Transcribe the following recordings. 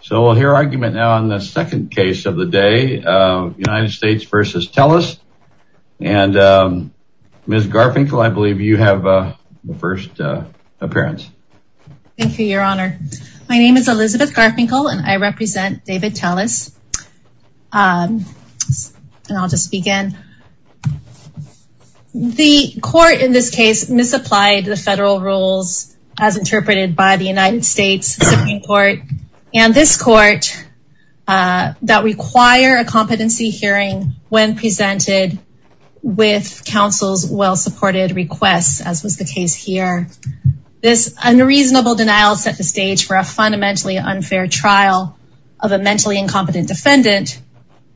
So we'll hear argument now on the second case of the day, United States v. Telles, and Ms. Garfinkel, I believe you have the first appearance. Thank you, your honor. My name is Elizabeth Garfinkel, and I represent David Telles, and I'll just begin. The court in this case misapplied the federal rules as interpreted by the United States Supreme and this court that require a competency hearing when presented with counsel's well-supported requests, as was the case here. This unreasonable denial set the stage for a fundamentally unfair trial of a mentally incompetent defendant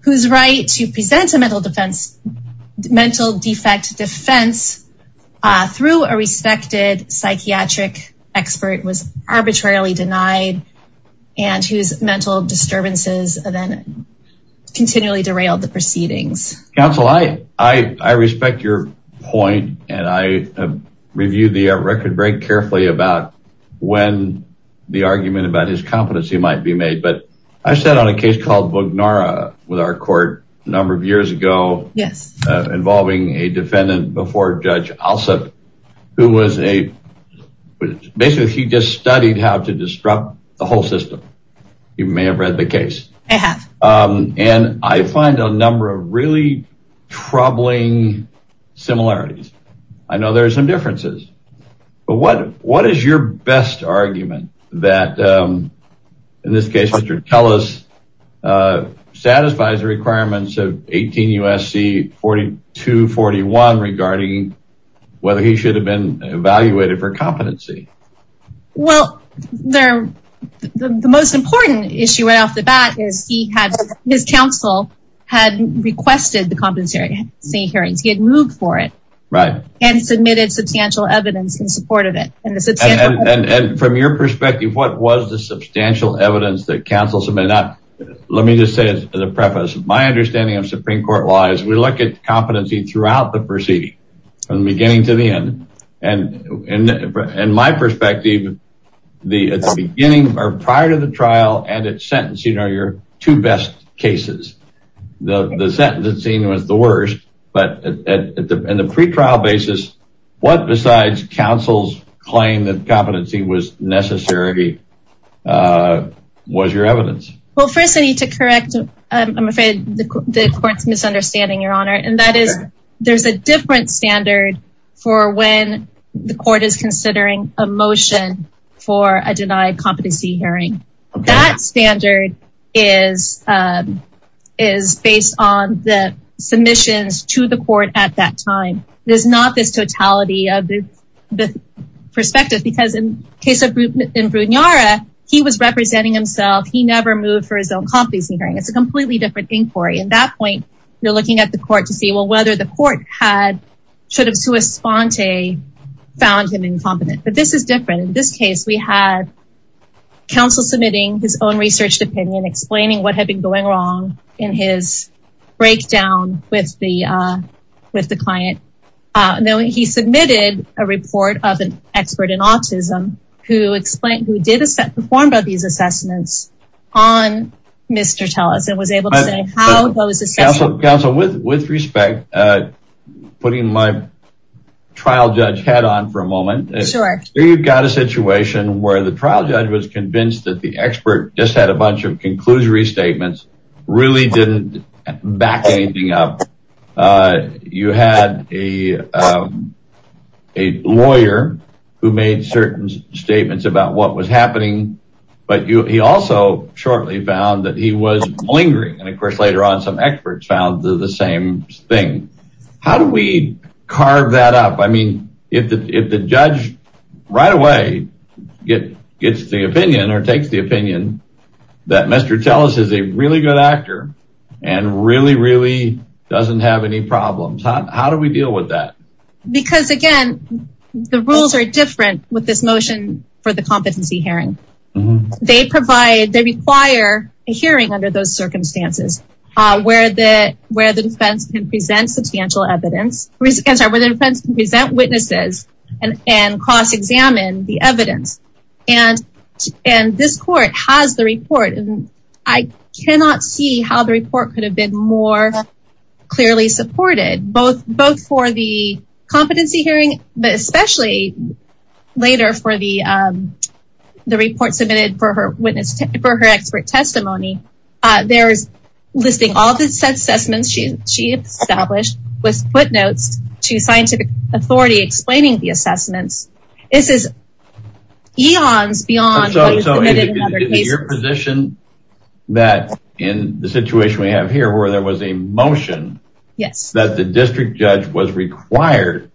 whose right to present a mental defect defense through a respected psychiatric expert was arbitrarily denied and whose mental disturbances then continually derailed the proceedings. Counsel, I respect your point, and I reviewed the record very carefully about when the argument about his competency might be made, but I sat on a case called Vugnara with our court a number of years ago involving a defendant before Judge Alsup, who was a, basically, he just studied how to disrupt the whole system. You may have read the case. I have. And I find a number of really troubling similarities. I know there are some satisfies the requirements of 18 U.S.C. 4241 regarding whether he should have been evaluated for competency. Well, the most important issue right off the bat is he had, his counsel had requested the competency hearings. He had moved for it. Right. And submitted substantial evidence in support of it. And from your perspective, what was the substantial evidence that counsel let me just say as a preface, my understanding of Supreme Court law is we look at competency throughout the proceeding from the beginning to the end. And in my perspective, the beginning or prior to the trial and its sentence, you know, your two best cases, the sentence it's seen was the worst, but in the pretrial basis, what besides counsel's claim that competency was necessary was your evidence. Well, first I need to correct, I'm afraid the court's misunderstanding, Your Honor. And that is there's a different standard for when the court is considering a motion for a denied competency hearing. That standard is based on the submissions to the court at that he was representing himself. He never moved for his own competency hearing. It's a completely different inquiry. At that point, you're looking at the court to see, well, whether the court had sort of to a spawn to found him incompetent, but this is different. In this case, we had counsel submitting his own research opinion, explaining what had been going wrong in his breakdown with the client. And then when he submitted a report of an expert in autism, who explained, who did a set performed by these assessments on Mr. Tullis and was able to say how those assessments... Counsel, with respect, putting my trial judge hat on for a moment. You've got a situation where the trial judge was convinced that the expert just had a bunch of conclusory statements, really didn't back anything up. You had a lawyer who made certain statements about what was happening, but he also shortly found that he was lingering. And of course, later on, some experts found the same thing. How do we carve that up? I mean, if the judge right away gets the opinion or takes the opinion that Mr. Tullis is a really good actor and really, really doesn't have any problems, how do we deal with that? Because again, the rules are different with this motion for the competency hearing. They require a hearing under those circumstances where the defense can present witnesses and cross-examine the evidence. And this court has the report. And I cannot see how the report could have been more clearly supported, both for the competency hearing, but especially later for the report submitted for her expert testimony. There's listing all the assessments she established with footnotes to scientific authority explaining the assessments. This is eons beyond... Your position that in the situation we have here, where there was a motion, that the district judge was required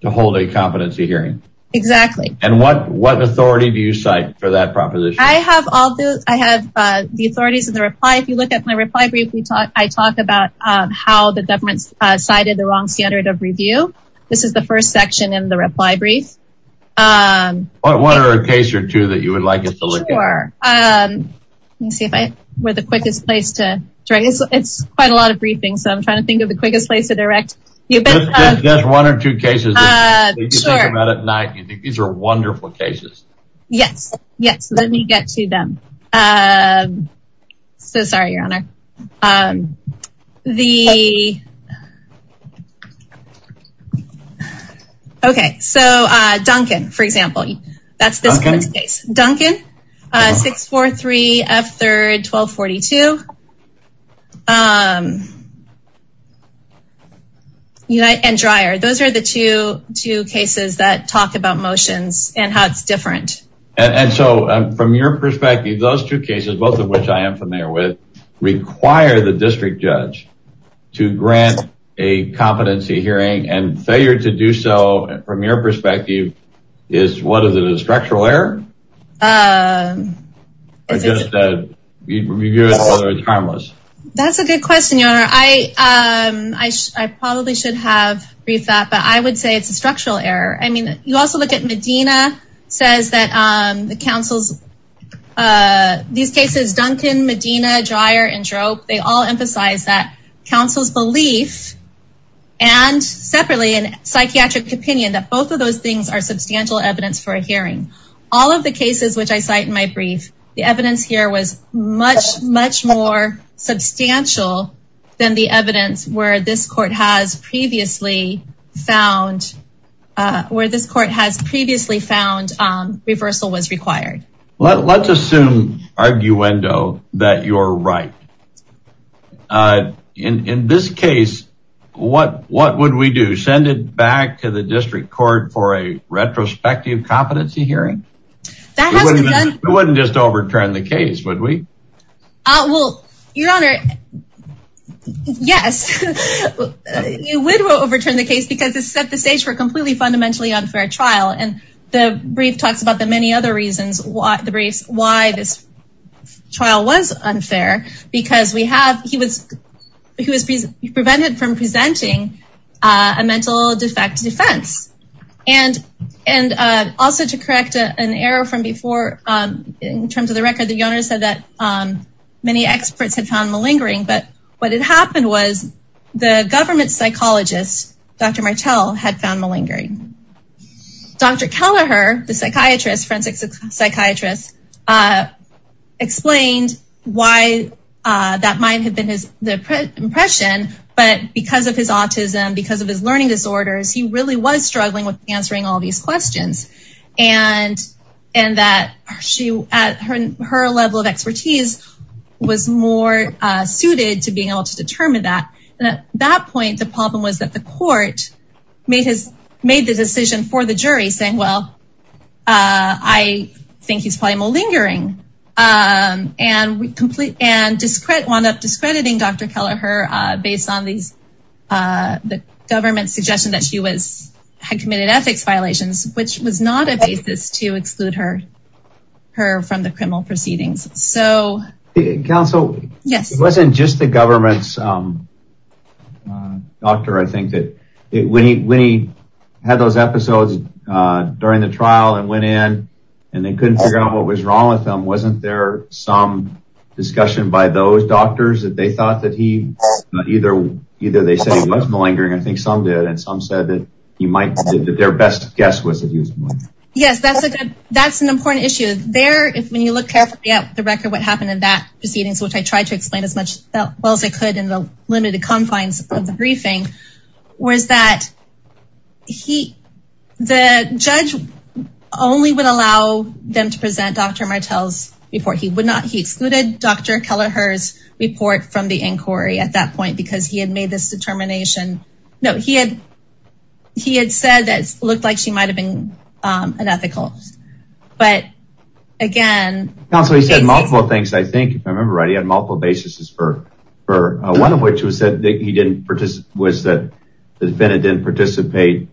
to hold a competency hearing. Exactly. And what authority do you cite for that proposition? I have all those. I have the authorities of the reply. If you look at my reply brief, I talk about how the government cited the wrong standard of review. This is the first section in the reply brief. What are a case or two that you would like us to look at? Sure. Let me see if I were the quickest place to direct. It's quite a lot of briefings, so I'm trying to think of the quickest place to direct. Just one or two cases that you can think about at night. These are wonderful cases. Yes. Yes. Let me get to them. So sorry, Your Honor. The... Okay. So Duncan, for example, that's this case. Duncan, 643 F3, 1242. And Dreyer. Those are the two cases that talk about motions and how it's different. And so from your perspective, those two cases, both of which I am familiar with, require the district judge to grant a competency hearing and failure to do so from your perspective is what is it, a structural error? That's a good question, Your Honor. I probably should have briefed that, but I would say it's a structural error. I mean, you also look at Medina, says that the counsels, these cases, Duncan, Medina, Dreyer, and Drope, they all emphasize that counsel's belief and separately in psychiatric opinion, that both of those things are substantial evidence for a hearing. All of the cases, which I cite in my brief, the evidence here was much, much more substantial than the evidence where this court has previously found, where this court has previously found reversal was required. Let's assume, arguendo, that you're right. In this case, what would we do? Send it back to the district court for a retrospective competency hearing? We wouldn't just overturn the case, would we? Well, Your Honor, yes. You would overturn the case because it set the stage for a completely fundamentally unfair trial. And the brief talks about the many other reasons, the briefs, why this trial was unfair, because he was prevented from presenting a mental defect defense. And also to correct an error from before, in terms of the record, Your Honor said that many experts had found malingering, but what had happened was the government psychologist, Dr. Martel, had found malingering. Dr. Kelleher, the forensic psychiatrist, explained why that might have been his impression, but because of his autism, because of his learning disorders, he really was struggling with answering all these questions. And that her level of expertise was more suited to being able to determine that. And at that point, the problem was that the court made the decision for the jury saying, well, I think he's probably malingering, and wound up discrediting Dr. Kelleher based on the government's suggestion that she had committed ethics violations, which was not a basis to exclude her from the criminal proceedings. Counsel, it wasn't just the government's doctor, I think. When he had those episodes during the trial and went in, and they couldn't figure out what was wrong with him, wasn't there some discussion by those doctors that they thought that he, either they said he was malingering, I think some did, some said that their best guess was that he was malingering. Yes, that's an important issue. There, when you look carefully at the record, what happened in that proceedings, which I tried to explain as well as I could in the limited confines of the briefing, was that the judge only would allow them to present Dr. Martel's report. He excluded Dr. Kelleher's report from the inquiry at that point, because he had made this determination. No, he had said that it looked like she might have been unethical. But again, Counsel, he said multiple things, I think, if I remember right. He had multiple basis for one of which was that he didn't participate, was that the defendant didn't participate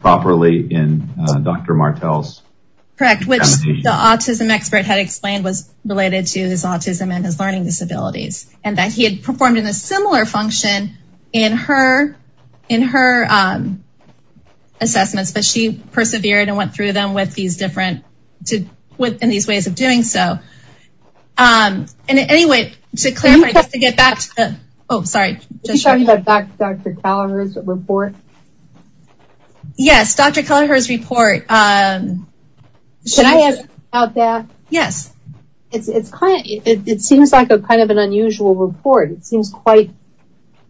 properly in Dr. Martel's. Correct, which the autism expert had explained was related to his autism and his learning disabilities, and that he had performed in a similar function in her assessments, but she persevered and went through them with these different ways of doing so. And anyway, to clarify, just to get back to the, oh, sorry. Were you talking about Dr. Kelleher's report? Yes, Dr. Kelleher's report. Should I add about that? Yes. It's kind of, it seems like a kind of an unusual report. It seems quite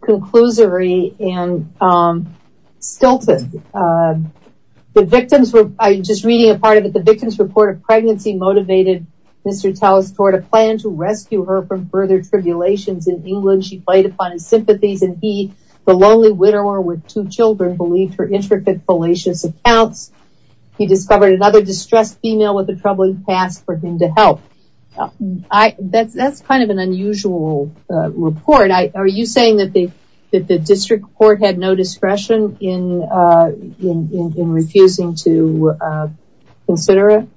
conclusory and stilted. The victims were, I'm just reading a part of it. The victim's report of pregnancy motivated Mr. Telles toward a plan to rescue her from further tribulations in England. She played upon his sympathies and he, the lonely widower with two children, believed her intricate, fallacious accounts. He discovered another distressed female with a troubling past for him to help. That's kind of an unusual report. Are you saying that the district court had no discretion in refusing to consider it?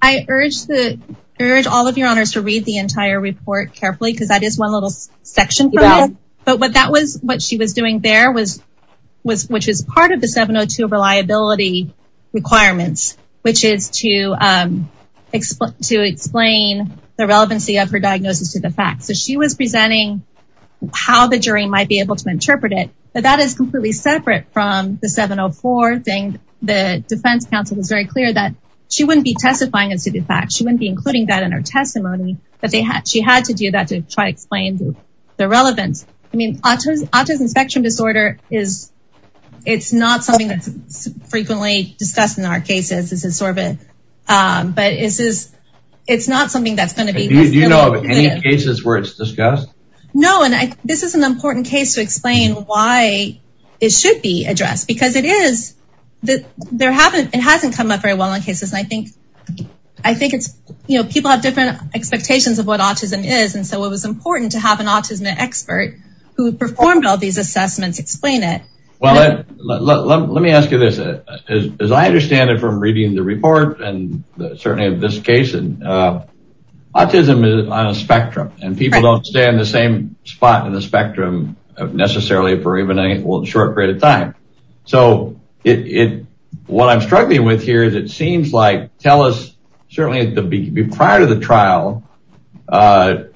I urge all of your honors to read the entire report carefully because that is one little section from it. But what that was, what she was doing there was, which is part of the 702 reliability requirements, which is to explain the relevancy of her diagnosis to the facts. So she was presenting how the jury might be able to interpret it, but that is completely separate from the 704 thing. The defense counsel was very clear that she wouldn't be testifying as to the facts. She wouldn't be including that in her testimony, but she had to do that to try to explain the relevance. I mean, autism spectrum disorder is, it's not something that's frequently discussed in our cases. But it's not something that's going to be- Do you know of any cases where it's discussed? No, and this is an important case to explain why it should be addressed because it hasn't come up very well in cases. I think people have different expectations of what autism is. And so it was important to have an autism expert who performed all these assessments explain it. Well, let me ask you this. As I understand it from reading the report, and certainly in this case, autism is on a spectrum and people don't stay in the same spot in the spectrum necessarily for even a short period of time. So what I'm struggling with here is it seems like, tell us, certainly prior to the trial,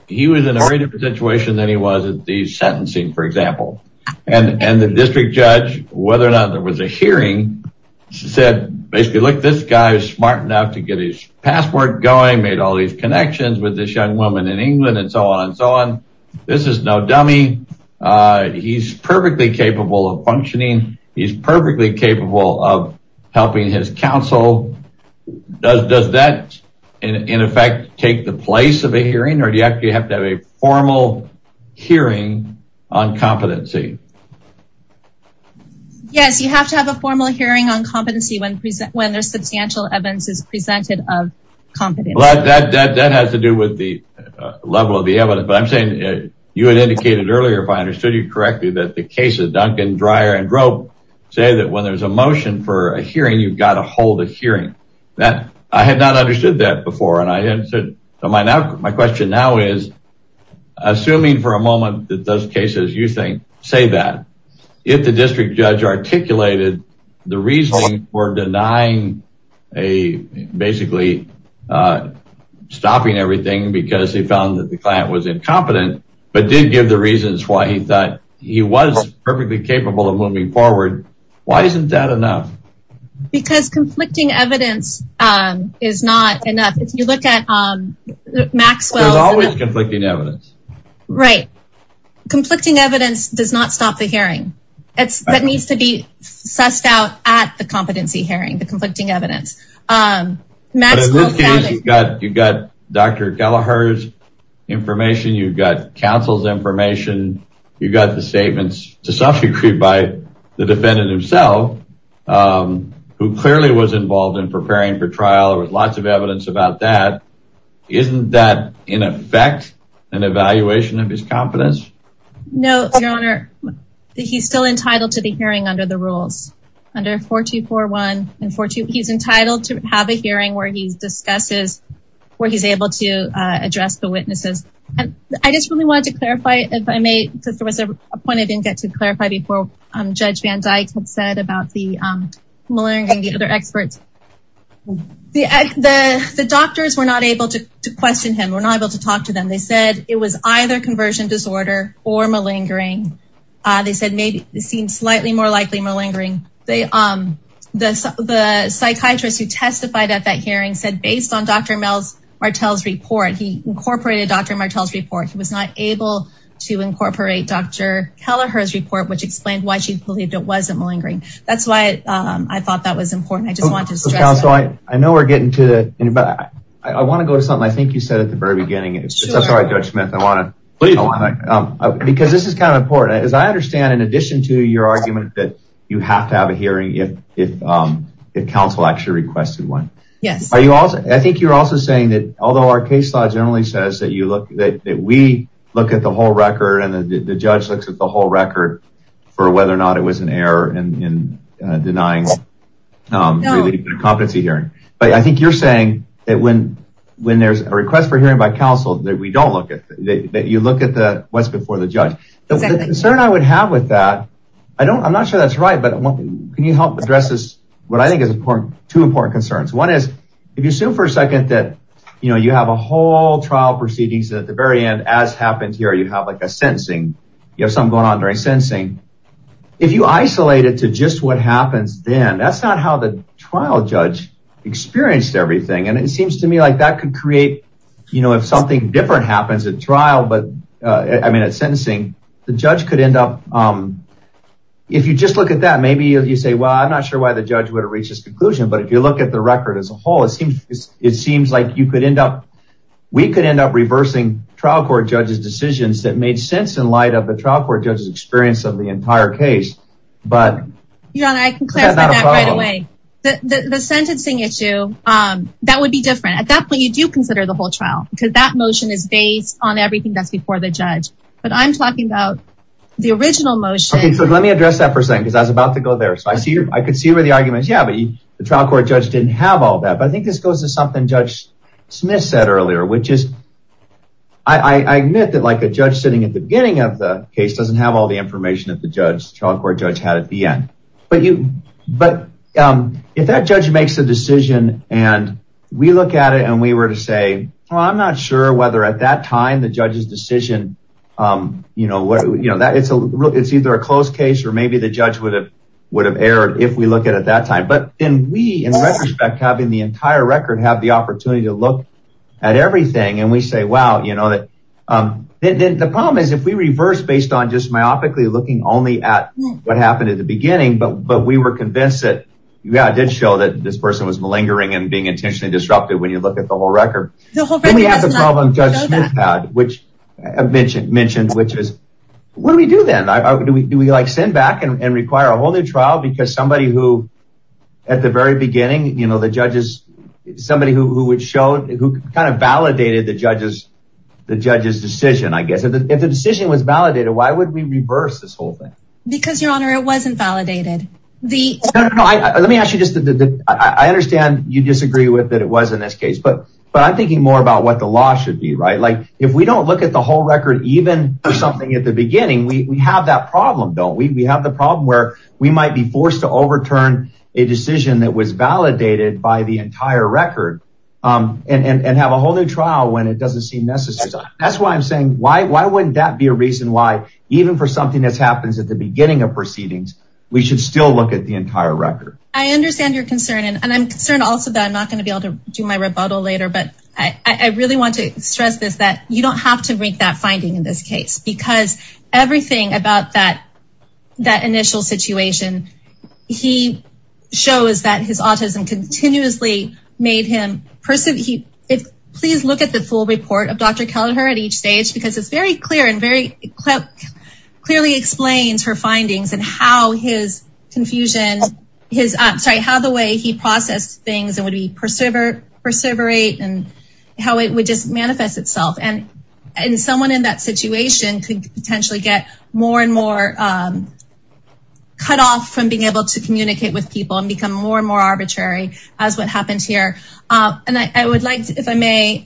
he was in a different situation than he was at the sentencing, for example. And the district judge, whether or not there was a hearing, said, basically, look, this guy is smart enough to get his password going, made all these connections with this young woman in England, and so on and so on. This is no dummy. He's perfectly capable of functioning. He's perfectly capable of helping his counsel. Does that, in effect, take the place of a hearing, or do you have to have a formal hearing on competency? Yes, you have to have a formal hearing on competency when there's substantial evidence is presented of competency. Well, that has to do with the level of the evidence. But I'm saying, you had indicated earlier, if I understood you correctly, that the case of Duncan, Dreyer, and Drobe say that when there's a motion for a hearing, you've got to hold a hearing. I had not understood that before, and my question now is, assuming for a moment that those cases you think say that, if the district judge articulated the reasoning for denying, basically, stopping everything because he found that the client was incompetent, but did give the reasons why he thought he was perfectly capable of moving forward, why isn't that enough? Because conflicting evidence is not enough. If you look at Maxwell's- There's always conflicting evidence. Right. Conflicting evidence does not stop the hearing. That needs to be sussed out at the competency hearing, the conflicting evidence. But in this case, you've got Dr. Gallaher's information, you've got counsel's information, you've got the statements to self-decree by the defendant himself. Who clearly was involved in preparing for trial. There was lots of evidence about that. Isn't that, in effect, an evaluation of his competence? No, Your Honor. He's still entitled to the hearing under the rules. Under 4241 and 4242, he's entitled to have a hearing where he discusses, where he's able to address the witnesses. And I just really wanted to clarify, if I may, because there was a point I didn't get to clarify before Judge Van Dyke had said about the malingering and the other experts. The doctors were not able to question him, were not able to talk to them. They said it was either conversion disorder or malingering. They said maybe it seemed slightly more likely malingering. The psychiatrist who testified at that hearing said, based on Dr. Martel's report, he incorporated Dr. Martel's report. He was not able to incorporate Dr. Gallaher's report, which explained why she believed it wasn't malingering. That's why I thought that was important. I just wanted to stress that. Counsel, I know we're getting to the end, but I want to go to something I think you said at the very beginning. I'm sorry, Judge Smith. I want to, because this is kind of important. As I understand, in addition to your argument that you have to have a hearing if counsel actually requested one. Yes. Are you also, I think you're also saying that, although our case law generally says that we look at the whole record and the judge looks at the whole record for whether or not it was an error in denying a competency hearing. But I think you're saying that when there's a request for hearing by counsel that we don't look at, that you look at what's before the judge. The concern I would have with that, I'm not sure that's right, but can you help address this, what I think is two important concerns. One is, if you assume for a second that you have a whole trial proceedings that at the very end, as happened here, you have like a sentencing, you have something going on during sentencing. If you isolate it to just what happens then, that's not how the trial judge experienced everything. And it seems to me like that could create, you know, if something different happens at trial, but I mean, at sentencing, the judge could end up, if you just look at that, maybe if you say, well, I'm not sure why the judge would have reached this conclusion. But if you look at the record as a whole, it seems like you could end up, we could end up reversing trial court judge's decisions that made sense in light of the trial court judge's experience of the entire case. But... You know, I can clarify that right away. The sentencing issue, that would be different. At that point, you do consider the whole trial because that motion is based on everything that's before the judge. But I'm talking about the original motion. Okay, so let me address that for a second because I was about to go there. So I could see where the argument is, yeah, but the trial court judge didn't have all that. But I think this goes to something Judge Smith said earlier, which is, I admit that like a judge sitting at the beginning of the case doesn't have all the information that the trial court judge had at the end. But if that judge makes a decision and we look at it and we were to say, well, I'm not sure whether at that time the judge's decision, it's either a closed case or maybe the judge would have erred if we look at it at that time. But then we, in retrospect, having the entire record, have the opportunity to look at everything. And we say, wow, you know that... If we reverse based on just myopically looking only at what happened at the beginning, but we were convinced that, yeah, it did show that this person was malingering and being intentionally disrupted when you look at the whole record. Then we have the problem Judge Smith had, which I've mentioned, which is, what do we do then? Do we like send back and require a whole new trial? Because somebody who, at the very beginning, the judges, somebody who would show, who kind of validated the judge's decision, I guess, if the decision was validated, why would we reverse this whole thing? Because, Your Honor, it wasn't validated. No, no, no. Let me ask you just the... I understand you disagree with that it was in this case, but I'm thinking more about what the law should be, right? Like if we don't look at the whole record, even something at the beginning, we have that problem, don't we? We have the problem where we might be forced to overturn a decision that was validated by the entire record and have a whole new trial when it doesn't seem necessary. That's why I'm saying, why wouldn't that be a reason why, even for something that happens at the beginning of proceedings, we should still look at the entire record? I understand your concern, and I'm concerned also that I'm not going to be able to do my rebuttal later, but I really want to stress this, that you don't have to make that finding in this case, because everything about that initial situation, he shows that his autism continuously made him... Please look at the full report of Dr. Kelleher at each stage, because it's very clear and very clearly explains her findings and how his confusion, sorry, how the way he processed things and would he perseverate and how it would just manifest itself. And someone in that situation could potentially get more and more cut off from being able to communicate with people and become more and more arbitrary as what happened here. And I would like to, if I may,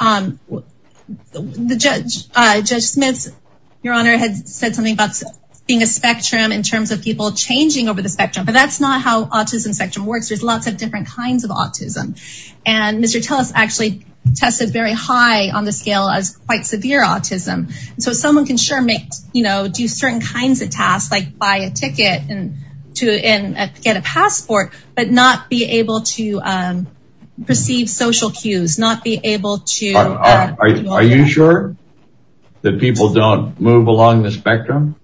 the judge, Judge Smith, your honor, had said something about being a spectrum in terms of people changing over the spectrum, but that's not how autism spectrum works. There's lots of different kinds of autism. And Mr. Telles actually tested very high on the scale as quite severe autism. So someone can sure make, do certain kinds of tasks, like buy a ticket and get a passport, but not be able to perceive social cues, not be able to- Are you sure that people don't move along the spectrum?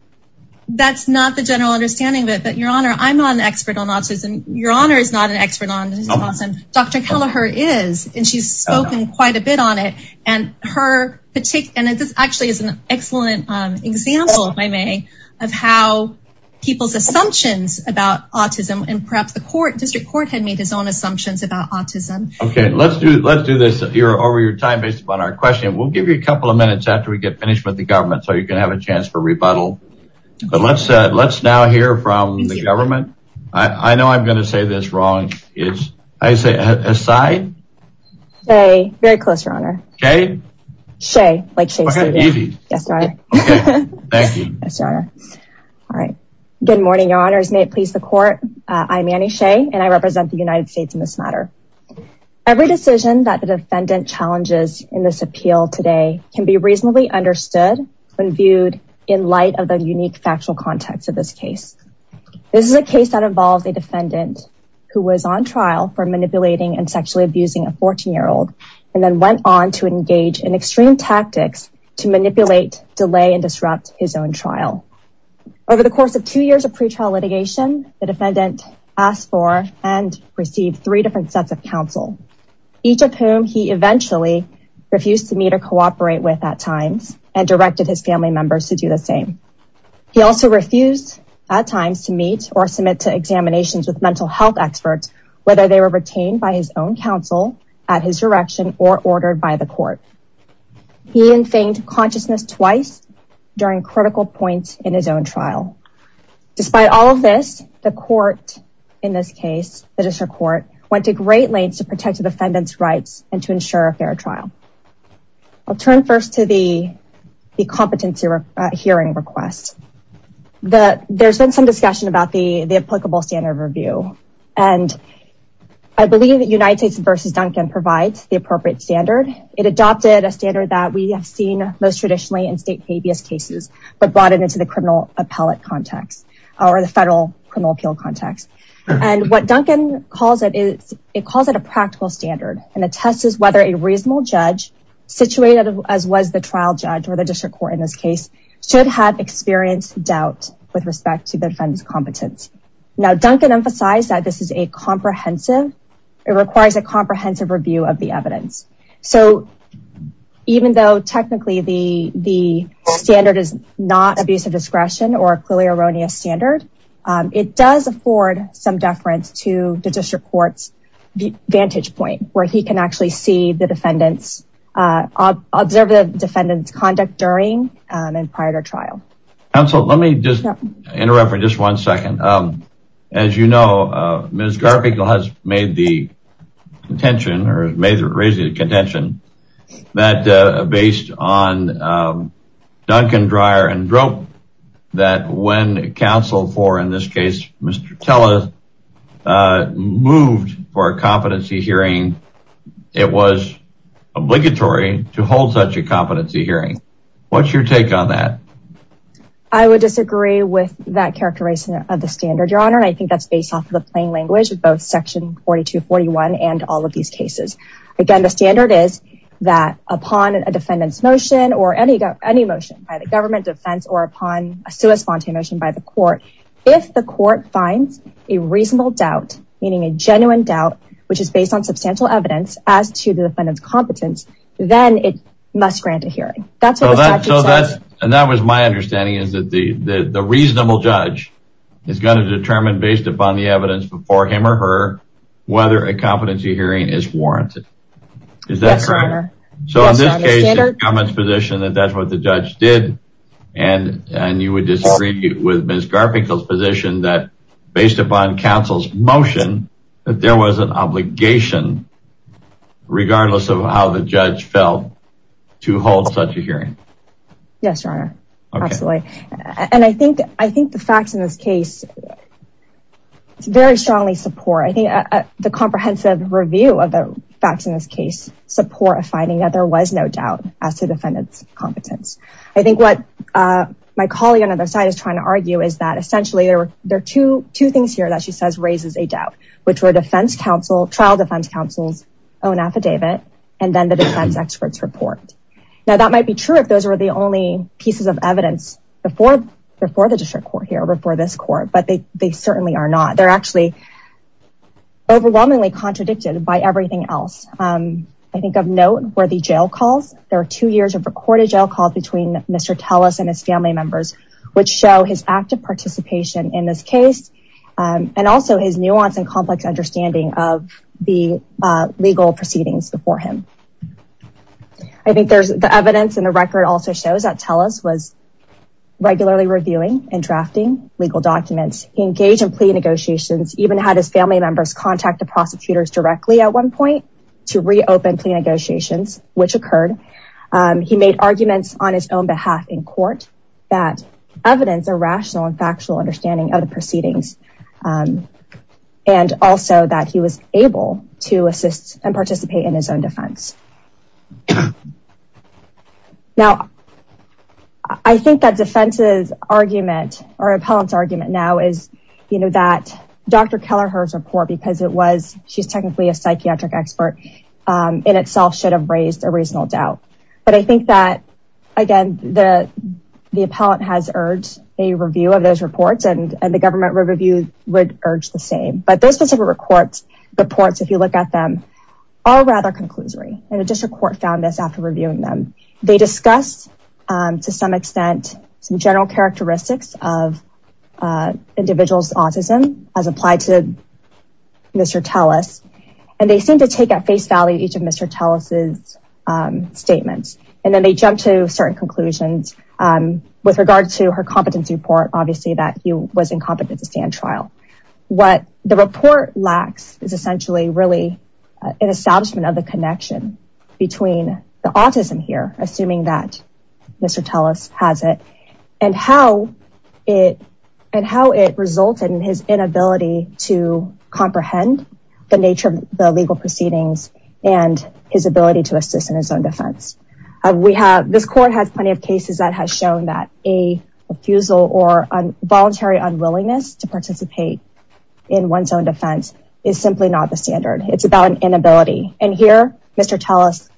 That's not the general understanding of it, but your honor, I'm not an expert on autism. Your honor is not an expert on autism. Dr. Kelleher is, and she's spoken quite a bit on it. And her particular, and this actually is an excellent example, if I may, of how people's assumptions about autism and perhaps the district court had made his own assumptions about autism. Okay, let's do this over your time based upon our question. We'll give you a couple of minutes after we get finished with the government so you can have a chance for rebuttal. But let's now hear from the government. I know I'm going to say this wrong. It's, I say, Asai? Shea, very close, your honor. Shea? Shea, like Shea said. Okay, easy. Okay, thank you. Yes, your honor. All right. Good morning, your honors. May it please the court. I'm Annie Shea, and I represent the United States in this matter. Every decision that the defendant challenges in this appeal today can be reasonably understood when viewed in light of the unique factual context of this case. This is a case that involves a defendant who was on trial for manipulating and sexually abusing a 14-year-old, and then went on to engage in extreme tactics to manipulate, delay, and disrupt his own trial. Over the course of two years of pretrial litigation, the defendant asked for and received three different sets of counsel, each of whom he eventually refused to meet or cooperate with at times, and directed his family members to do the same. He also refused at times to meet or submit to examinations with mental health experts, whether they were retained by his own counsel at his direction or ordered by the court. He infinged consciousness twice during critical points in his own trial. Despite all of this, the court in this case, the district court, went to great lengths to protect the defendant's rights and to ensure a fair trial. I'll turn first to the competency hearing request. There's been some discussion about the applicable standard of review, and I believe that United States versus Duncan provides the appropriate standard. It adopted a standard that we have seen most traditionally in state habeas cases, but brought it into the criminal appellate context or the federal criminal appeal context. And what Duncan calls it, it calls it a practical standard and attests whether a reasonable judge situated as was the trial judge or the district court in this case should have experienced doubt with respect to the defendant's competence. Now, Duncan emphasized that this is a comprehensive, it requires a comprehensive review of the evidence. So even though technically the standard is not abuse of discretion or a clearly erroneous standard, it does afford some deference to the district court's vantage point, where he can actually see the defendant's, observe the defendant's conduct during and prior to trial. Counsel, let me just interrupt for just one second. As you know, Ms. Garfinkle has made the contention or raised the contention that based on Duncan, Dreyer, and Drope, that when counsel for in this case, Mr. Teller moved for a competency hearing, it was obligatory to hold such a competency hearing. What's your take on that? I would disagree with that characterization of the standard, your honor. I think that's based off of the plain language of both section 4241 and all of these cases. Again, the standard is that upon a defendant's motion or any motion by the government defense or upon a sui sponte motion by the court, if the court finds a reasonable doubt, meaning a genuine doubt, which is based on substantial evidence as to the defendant's competence, then it must grant a hearing. That's what the statute says. And that was my understanding is that the reasonable judge is gonna determine based upon the evidence before him or her, whether a competency hearing is warranted. Is that correct? So in this case, the government's position that that's what the judge did. And you would disagree with Ms. Garfinkel's position that based upon counsel's motion, that there was an obligation regardless of how the judge felt to hold such a hearing. Yes, your honor. Absolutely. And I think the facts in this case very strongly support. The comprehensive review of the facts in this case support a finding that there was no doubt as to defendant's competence. I think what my colleague on the other side is trying to argue is that essentially there are two things here that she says raises a doubt, which were trial defense counsel's own affidavit and then the defense experts report. Now that might be true if those were the only pieces of evidence before the district court here, before this court, but they certainly are not. They're actually overwhelmingly contradicted by everything else. I think of note where the jail calls, there are two years of recorded jail calls between Mr. Telles and his family members, which show his active participation in this case and also his nuance and complex understanding of the legal proceedings before him. I think there's the evidence and the record also shows that Telles was regularly reviewing and drafting legal documents, engaged in plea negotiations, even had his family members contact the prosecutors directly at one point to reopen plea negotiations, which occurred. He made arguments on his own behalf in court that evidence a rational and factual understanding of the proceedings and also that he was able to assist and participate in his own defense. Now, I think that defense's argument or appellant's argument now is that Dr. Kelleher's report, because she's technically a psychiatric expert in itself should have raised a reasonable doubt. But I think that, again, the appellant has urged a review of those reports and the government review would urge the same. But those specific reports, if you look at them, are rather conclusory. And the district court found this after reviewing them. They discussed to some extent some general characteristics of individual's autism as applied to Mr. Telles. And they seem to take at face value each of Mr. Telles' statements. And then they jumped to certain conclusions with regard to her competence report, obviously that he was incompetent to stand trial. What the report lacks is essentially really an establishment of the connection between the autism here, assuming that Mr. Telles has it, and how it resulted in his inability to comprehend the nature of the legal proceedings and his ability to assist in his own defense. This court has plenty of cases that has shown that a refusal or voluntary unwillingness to participate in one's own defense is simply not the standard. It's about an inability. And here, Mr. Telles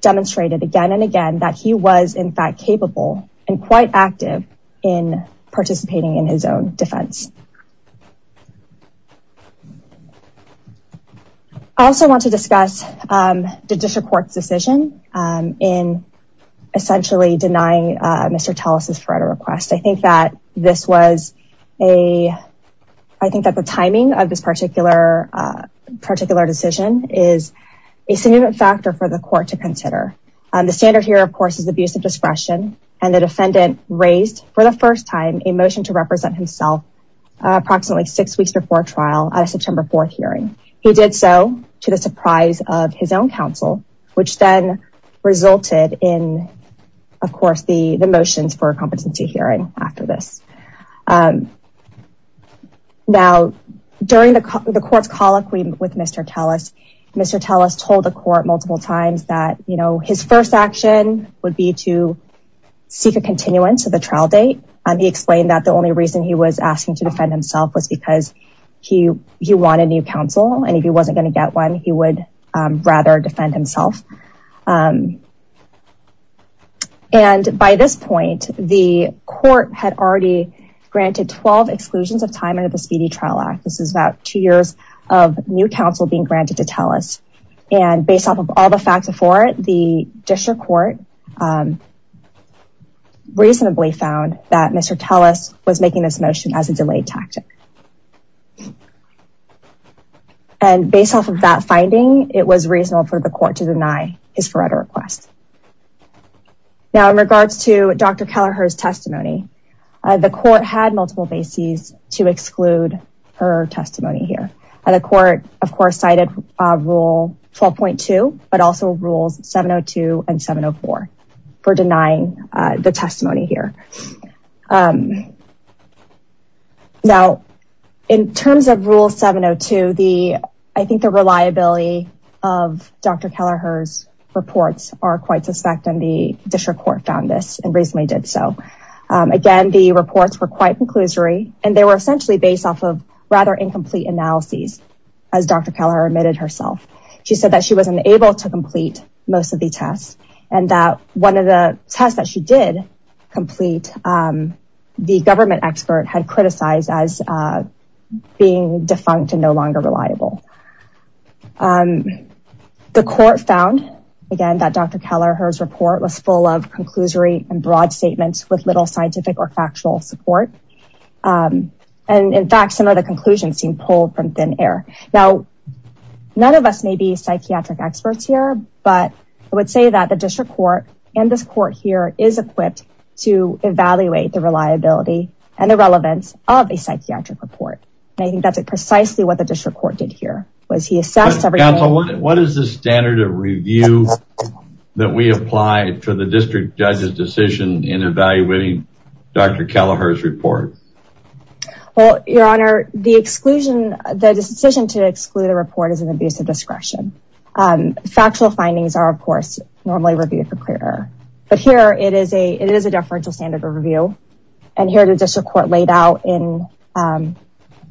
demonstrated again and again that he was in fact capable and quite active in participating in his own defense. I also want to discuss the district court's decision in essentially denying Mr. Telles' further request. I think that this was a, I think that the timing of this particular decision is a significant factor for the court to consider. The standard here, of course, is abuse of discretion. And the defendant raised, for the first time, a motion to represent himself approximately six weeks before trial at a September 4th hearing. He did so to the surprise of his own counsel, which then resulted in, of course, the motions for a competency hearing after this. Now, during the court's colloquy with Mr. Telles, Mr. Telles told the court multiple times that, you know, his first action would be to seek a continuance of the trial date. He explained that the only reason he was asking to defend himself was because he wanted new counsel. And if he wasn't gonna get one, he would rather defend himself. And by this point, the court had already granted 12 exclusions of time under the Speedy Trial Act. This is about two years of new counsel being granted to Telles. And based off of all the facts before it, the district court reasonably found that Mr. Telles was making this motion as a delayed tactic. And based off of that finding, it was reasonable for the court to deny his Faretto request. Now, in regards to Dr. Kelleher's testimony, the court had multiple bases to exclude her testimony here. And the court, of course, cited rule 12.2, but also rules 702 and 704 for denying the testimony here. Now, in terms of rule 702, I think the reliability of Dr. Kelleher's reports are quite suspect, and the district court found this and reasonably did so. Again, the reports were quite conclusory, and they were essentially based off of rather incomplete analyses, as Dr. Kelleher admitted herself. She said that she wasn't able to complete most of the tests, and that one of the tests that she did complete, the government expert had criticized as being defunct and no longer reliable. The court found, again, that Dr. Kelleher's report was full of conclusory and broad statements with little scientific or factual support. And in fact, some of the conclusions seem pulled from thin air. Now, none of us may be psychiatric experts here, but I would say that the district court and this court here is equipped to evaluate the reliability and the relevance of a psychiatric report. And I think that's precisely what the district court did here, was he assessed everything- Council, what is the standard of review that we apply to the district judge's decision in evaluating Dr. Kelleher's report? Well, your honor, the exclusion, the decision to exclude a report is an abuse of discretion. Factual findings are, of course, normally reviewed for clear error. But here, it is a deferential standard of review. And here, the district court laid out in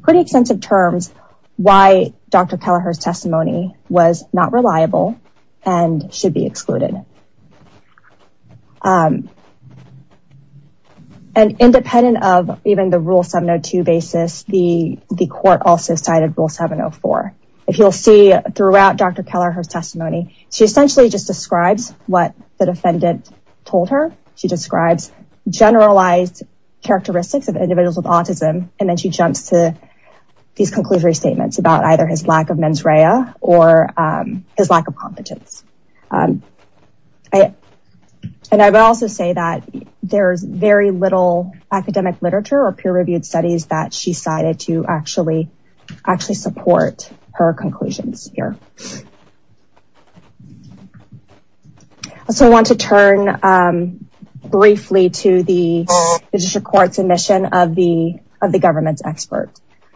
pretty extensive terms why Dr. Kelleher's testimony was not reliable and should be excluded. And independent of even the Rule 702 basis, the court also cited Rule 704. If you'll see throughout Dr. Kelleher's testimony, she essentially just describes what the defendant told her. She describes generalized characteristics of individuals with autism, and then she jumps to these conclusory statements about either his lack of mens rea or his lack of competence. And I would also say that there's very little academic literature or peer-reviewed studies that she cited to actually support her conclusions here. So I want to turn briefly to the district court's admission of the government's expert.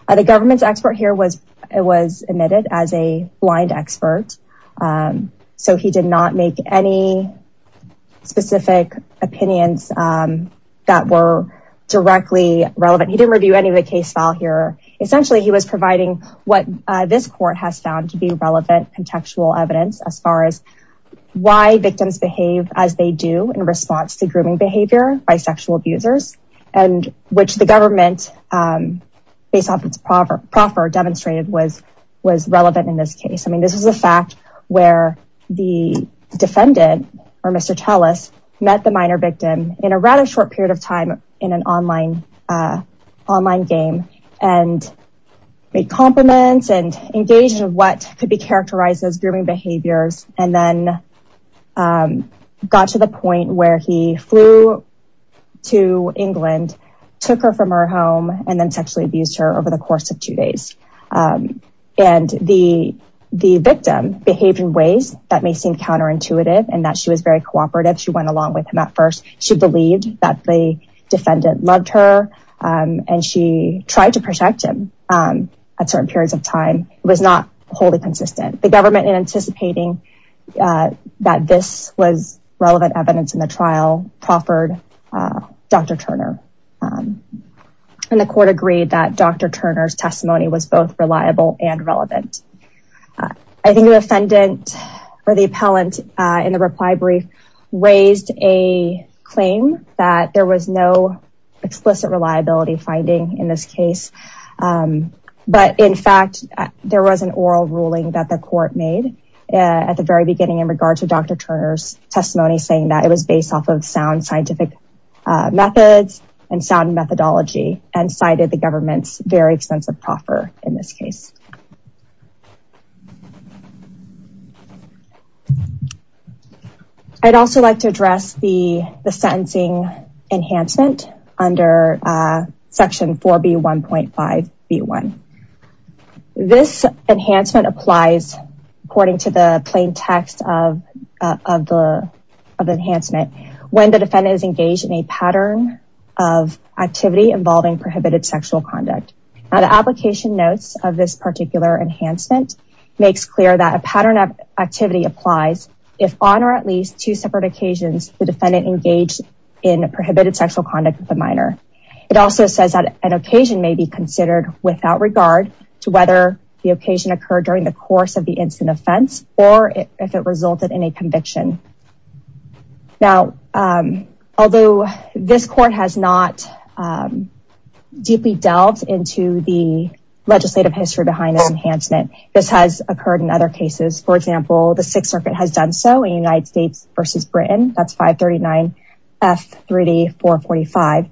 The government's expert here was admitted as a blind expert. So he did not make any specific opinions that were directly relevant. He didn't review any of the case file here. Essentially, he was providing what this court has found to be relevant contextual evidence as far as why victims behave as they do in response to grooming behavior by sexual abusers, and which the government, based off its proffer, demonstrated was relevant in this case. This was a fact where the defendant, or Mr. Tellis, met the minor victim in a rather short period of time in an online game, and made compliments and engaged in what could be characterized as grooming behaviors, and then got to the point where he flew to England, took her from her home, and then sexually abused her over the course of two days. And the victim behaved in ways that may seem counterintuitive, and that she was very cooperative. She went along with him at first. She believed that the defendant loved her, and she tried to protect him at certain periods of time. It was not wholly consistent. The government, in anticipating that this was relevant evidence in the trial, proffered Dr. Turner. And the court agreed that Dr. Turner's testimony was both reliable and relevant. I think the defendant, or the appellant in the reply brief, raised a claim that there was no explicit reliability finding in this case. But in fact, there was an oral ruling that the court made at the very beginning in regard to Dr. Turner's testimony, saying that it was based off of sound scientific methods and sound methodology, and cited the government's very extensive proffer in this case. I'd also like to address the sentencing enhancement under section 4B1.5B1. This enhancement applies, according to the plain text of the enhancement, when the defendant is engaged in a pattern of activity involving prohibited sexual conduct. Now, the application notes of this particular enhancement makes clear that a pattern of activity applies if on or at least two separate occasions, the defendant engaged in prohibited sexual conduct with a minor. It also says that an occasion may be considered without regard to whether the occasion occurred during the course of the incident offense, or if it resulted in a conviction. Now, although this court has not deeply delved into the legislative history behind this enhancement, this has occurred in other cases. For example, the Sixth Circuit has done so in United States versus Britain. That's 539 F 3D 445.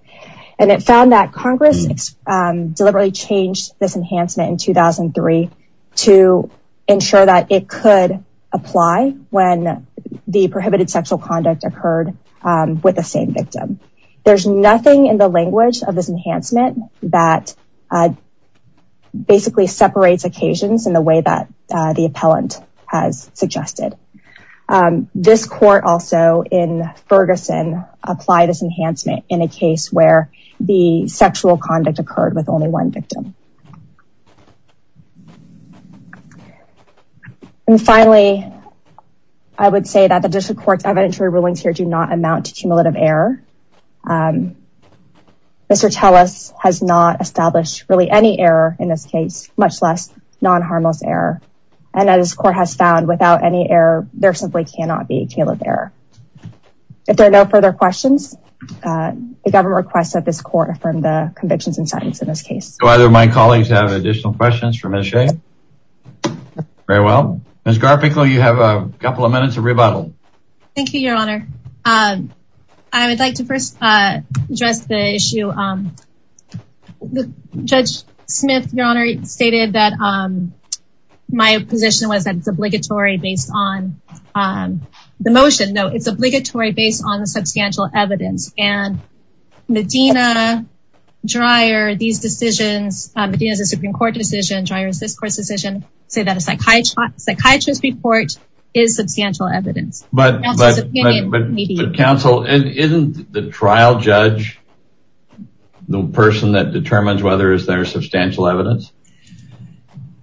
And it found that Congress deliberately changed this enhancement in 2003 to ensure that it could apply when the prohibited sexual conduct occurred with the same victim. There's nothing in the language of this enhancement that basically separates occasions in the way that the appellant has suggested. This court also in Ferguson applied this enhancement in a case where the sexual conduct occurred with only one victim. And finally, I would say that the District Court's evidentiary rulings here do not amount to cumulative error. Mr. Tellis has not established really any error in this case, much less non-harmless error. And as this court has found without any error, there simply cannot be a cumulative error. If there are no further questions, the government requests that this court affirm the convictions and settings in this case. Do either of my colleagues have additional questions for Ms. Shea? Very well. Ms. Garpickel, you have a couple of minutes of rebuttal. Thank you, Your Honor. I would like to first address the issue. Judge Smith, Your Honor, stated that my position was that it's obligatory based on the motion. No, it's obligatory based on the substantial evidence. And Medina, Dreyer, these decisions, Medina's a Supreme Court decision, Dreyer's this court's decision, say that a psychiatrist's report is substantial evidence. But counsel, isn't the trial judge the person that determines whether is there substantial evidence?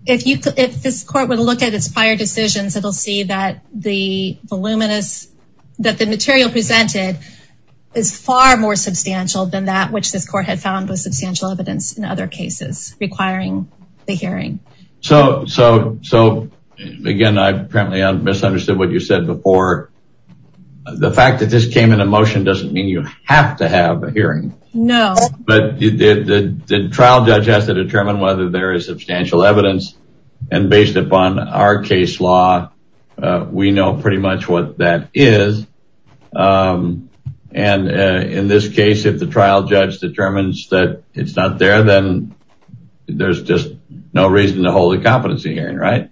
If this court would look at its prior decisions, it'll see that the voluminous, that the material presented is far more substantial than that which this court had found was substantial evidence in other cases requiring the hearing. So again, I apparently misunderstood what you said before. The fact that this came in a motion doesn't mean you have to have a hearing. No. But the trial judge has to determine whether there is substantial evidence. And based upon our case law, we know pretty much what that is. And in this case, if the trial judge determines that it's not there, then there's just no reason to hold a competency hearing, right?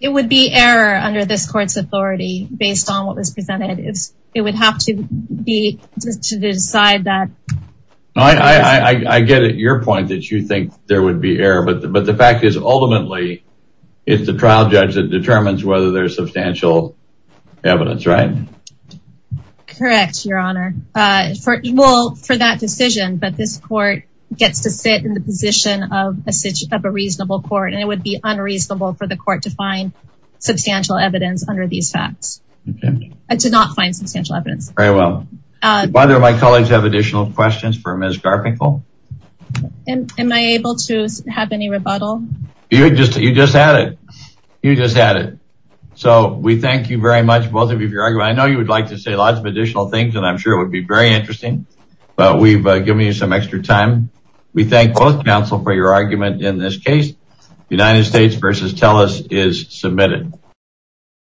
It would be error under this court's authority based on what was presented. It would have to be to decide that. No, I get it. Your point that you think there would be error, but the fact is ultimately, it's the trial judge that determines whether there's substantial evidence, right? Correct, Your Honor. Well, for that decision, but this court gets to sit in the position of a reasonable court, and it would be unreasonable for the court to find substantial evidence under these facts. And to not find substantial evidence. Very well. Whether my colleagues have additional questions for Ms. Garfinkel? Am I able to have any rebuttal? You just had it. You just had it. So we thank you very much, both of you for your argument. I know you would like to say lots of additional things, and I'm sure it would be very interesting, but we've given you some extra time. We thank both counsel for your argument in this case. United States versus TELUS is submitted. Thank you.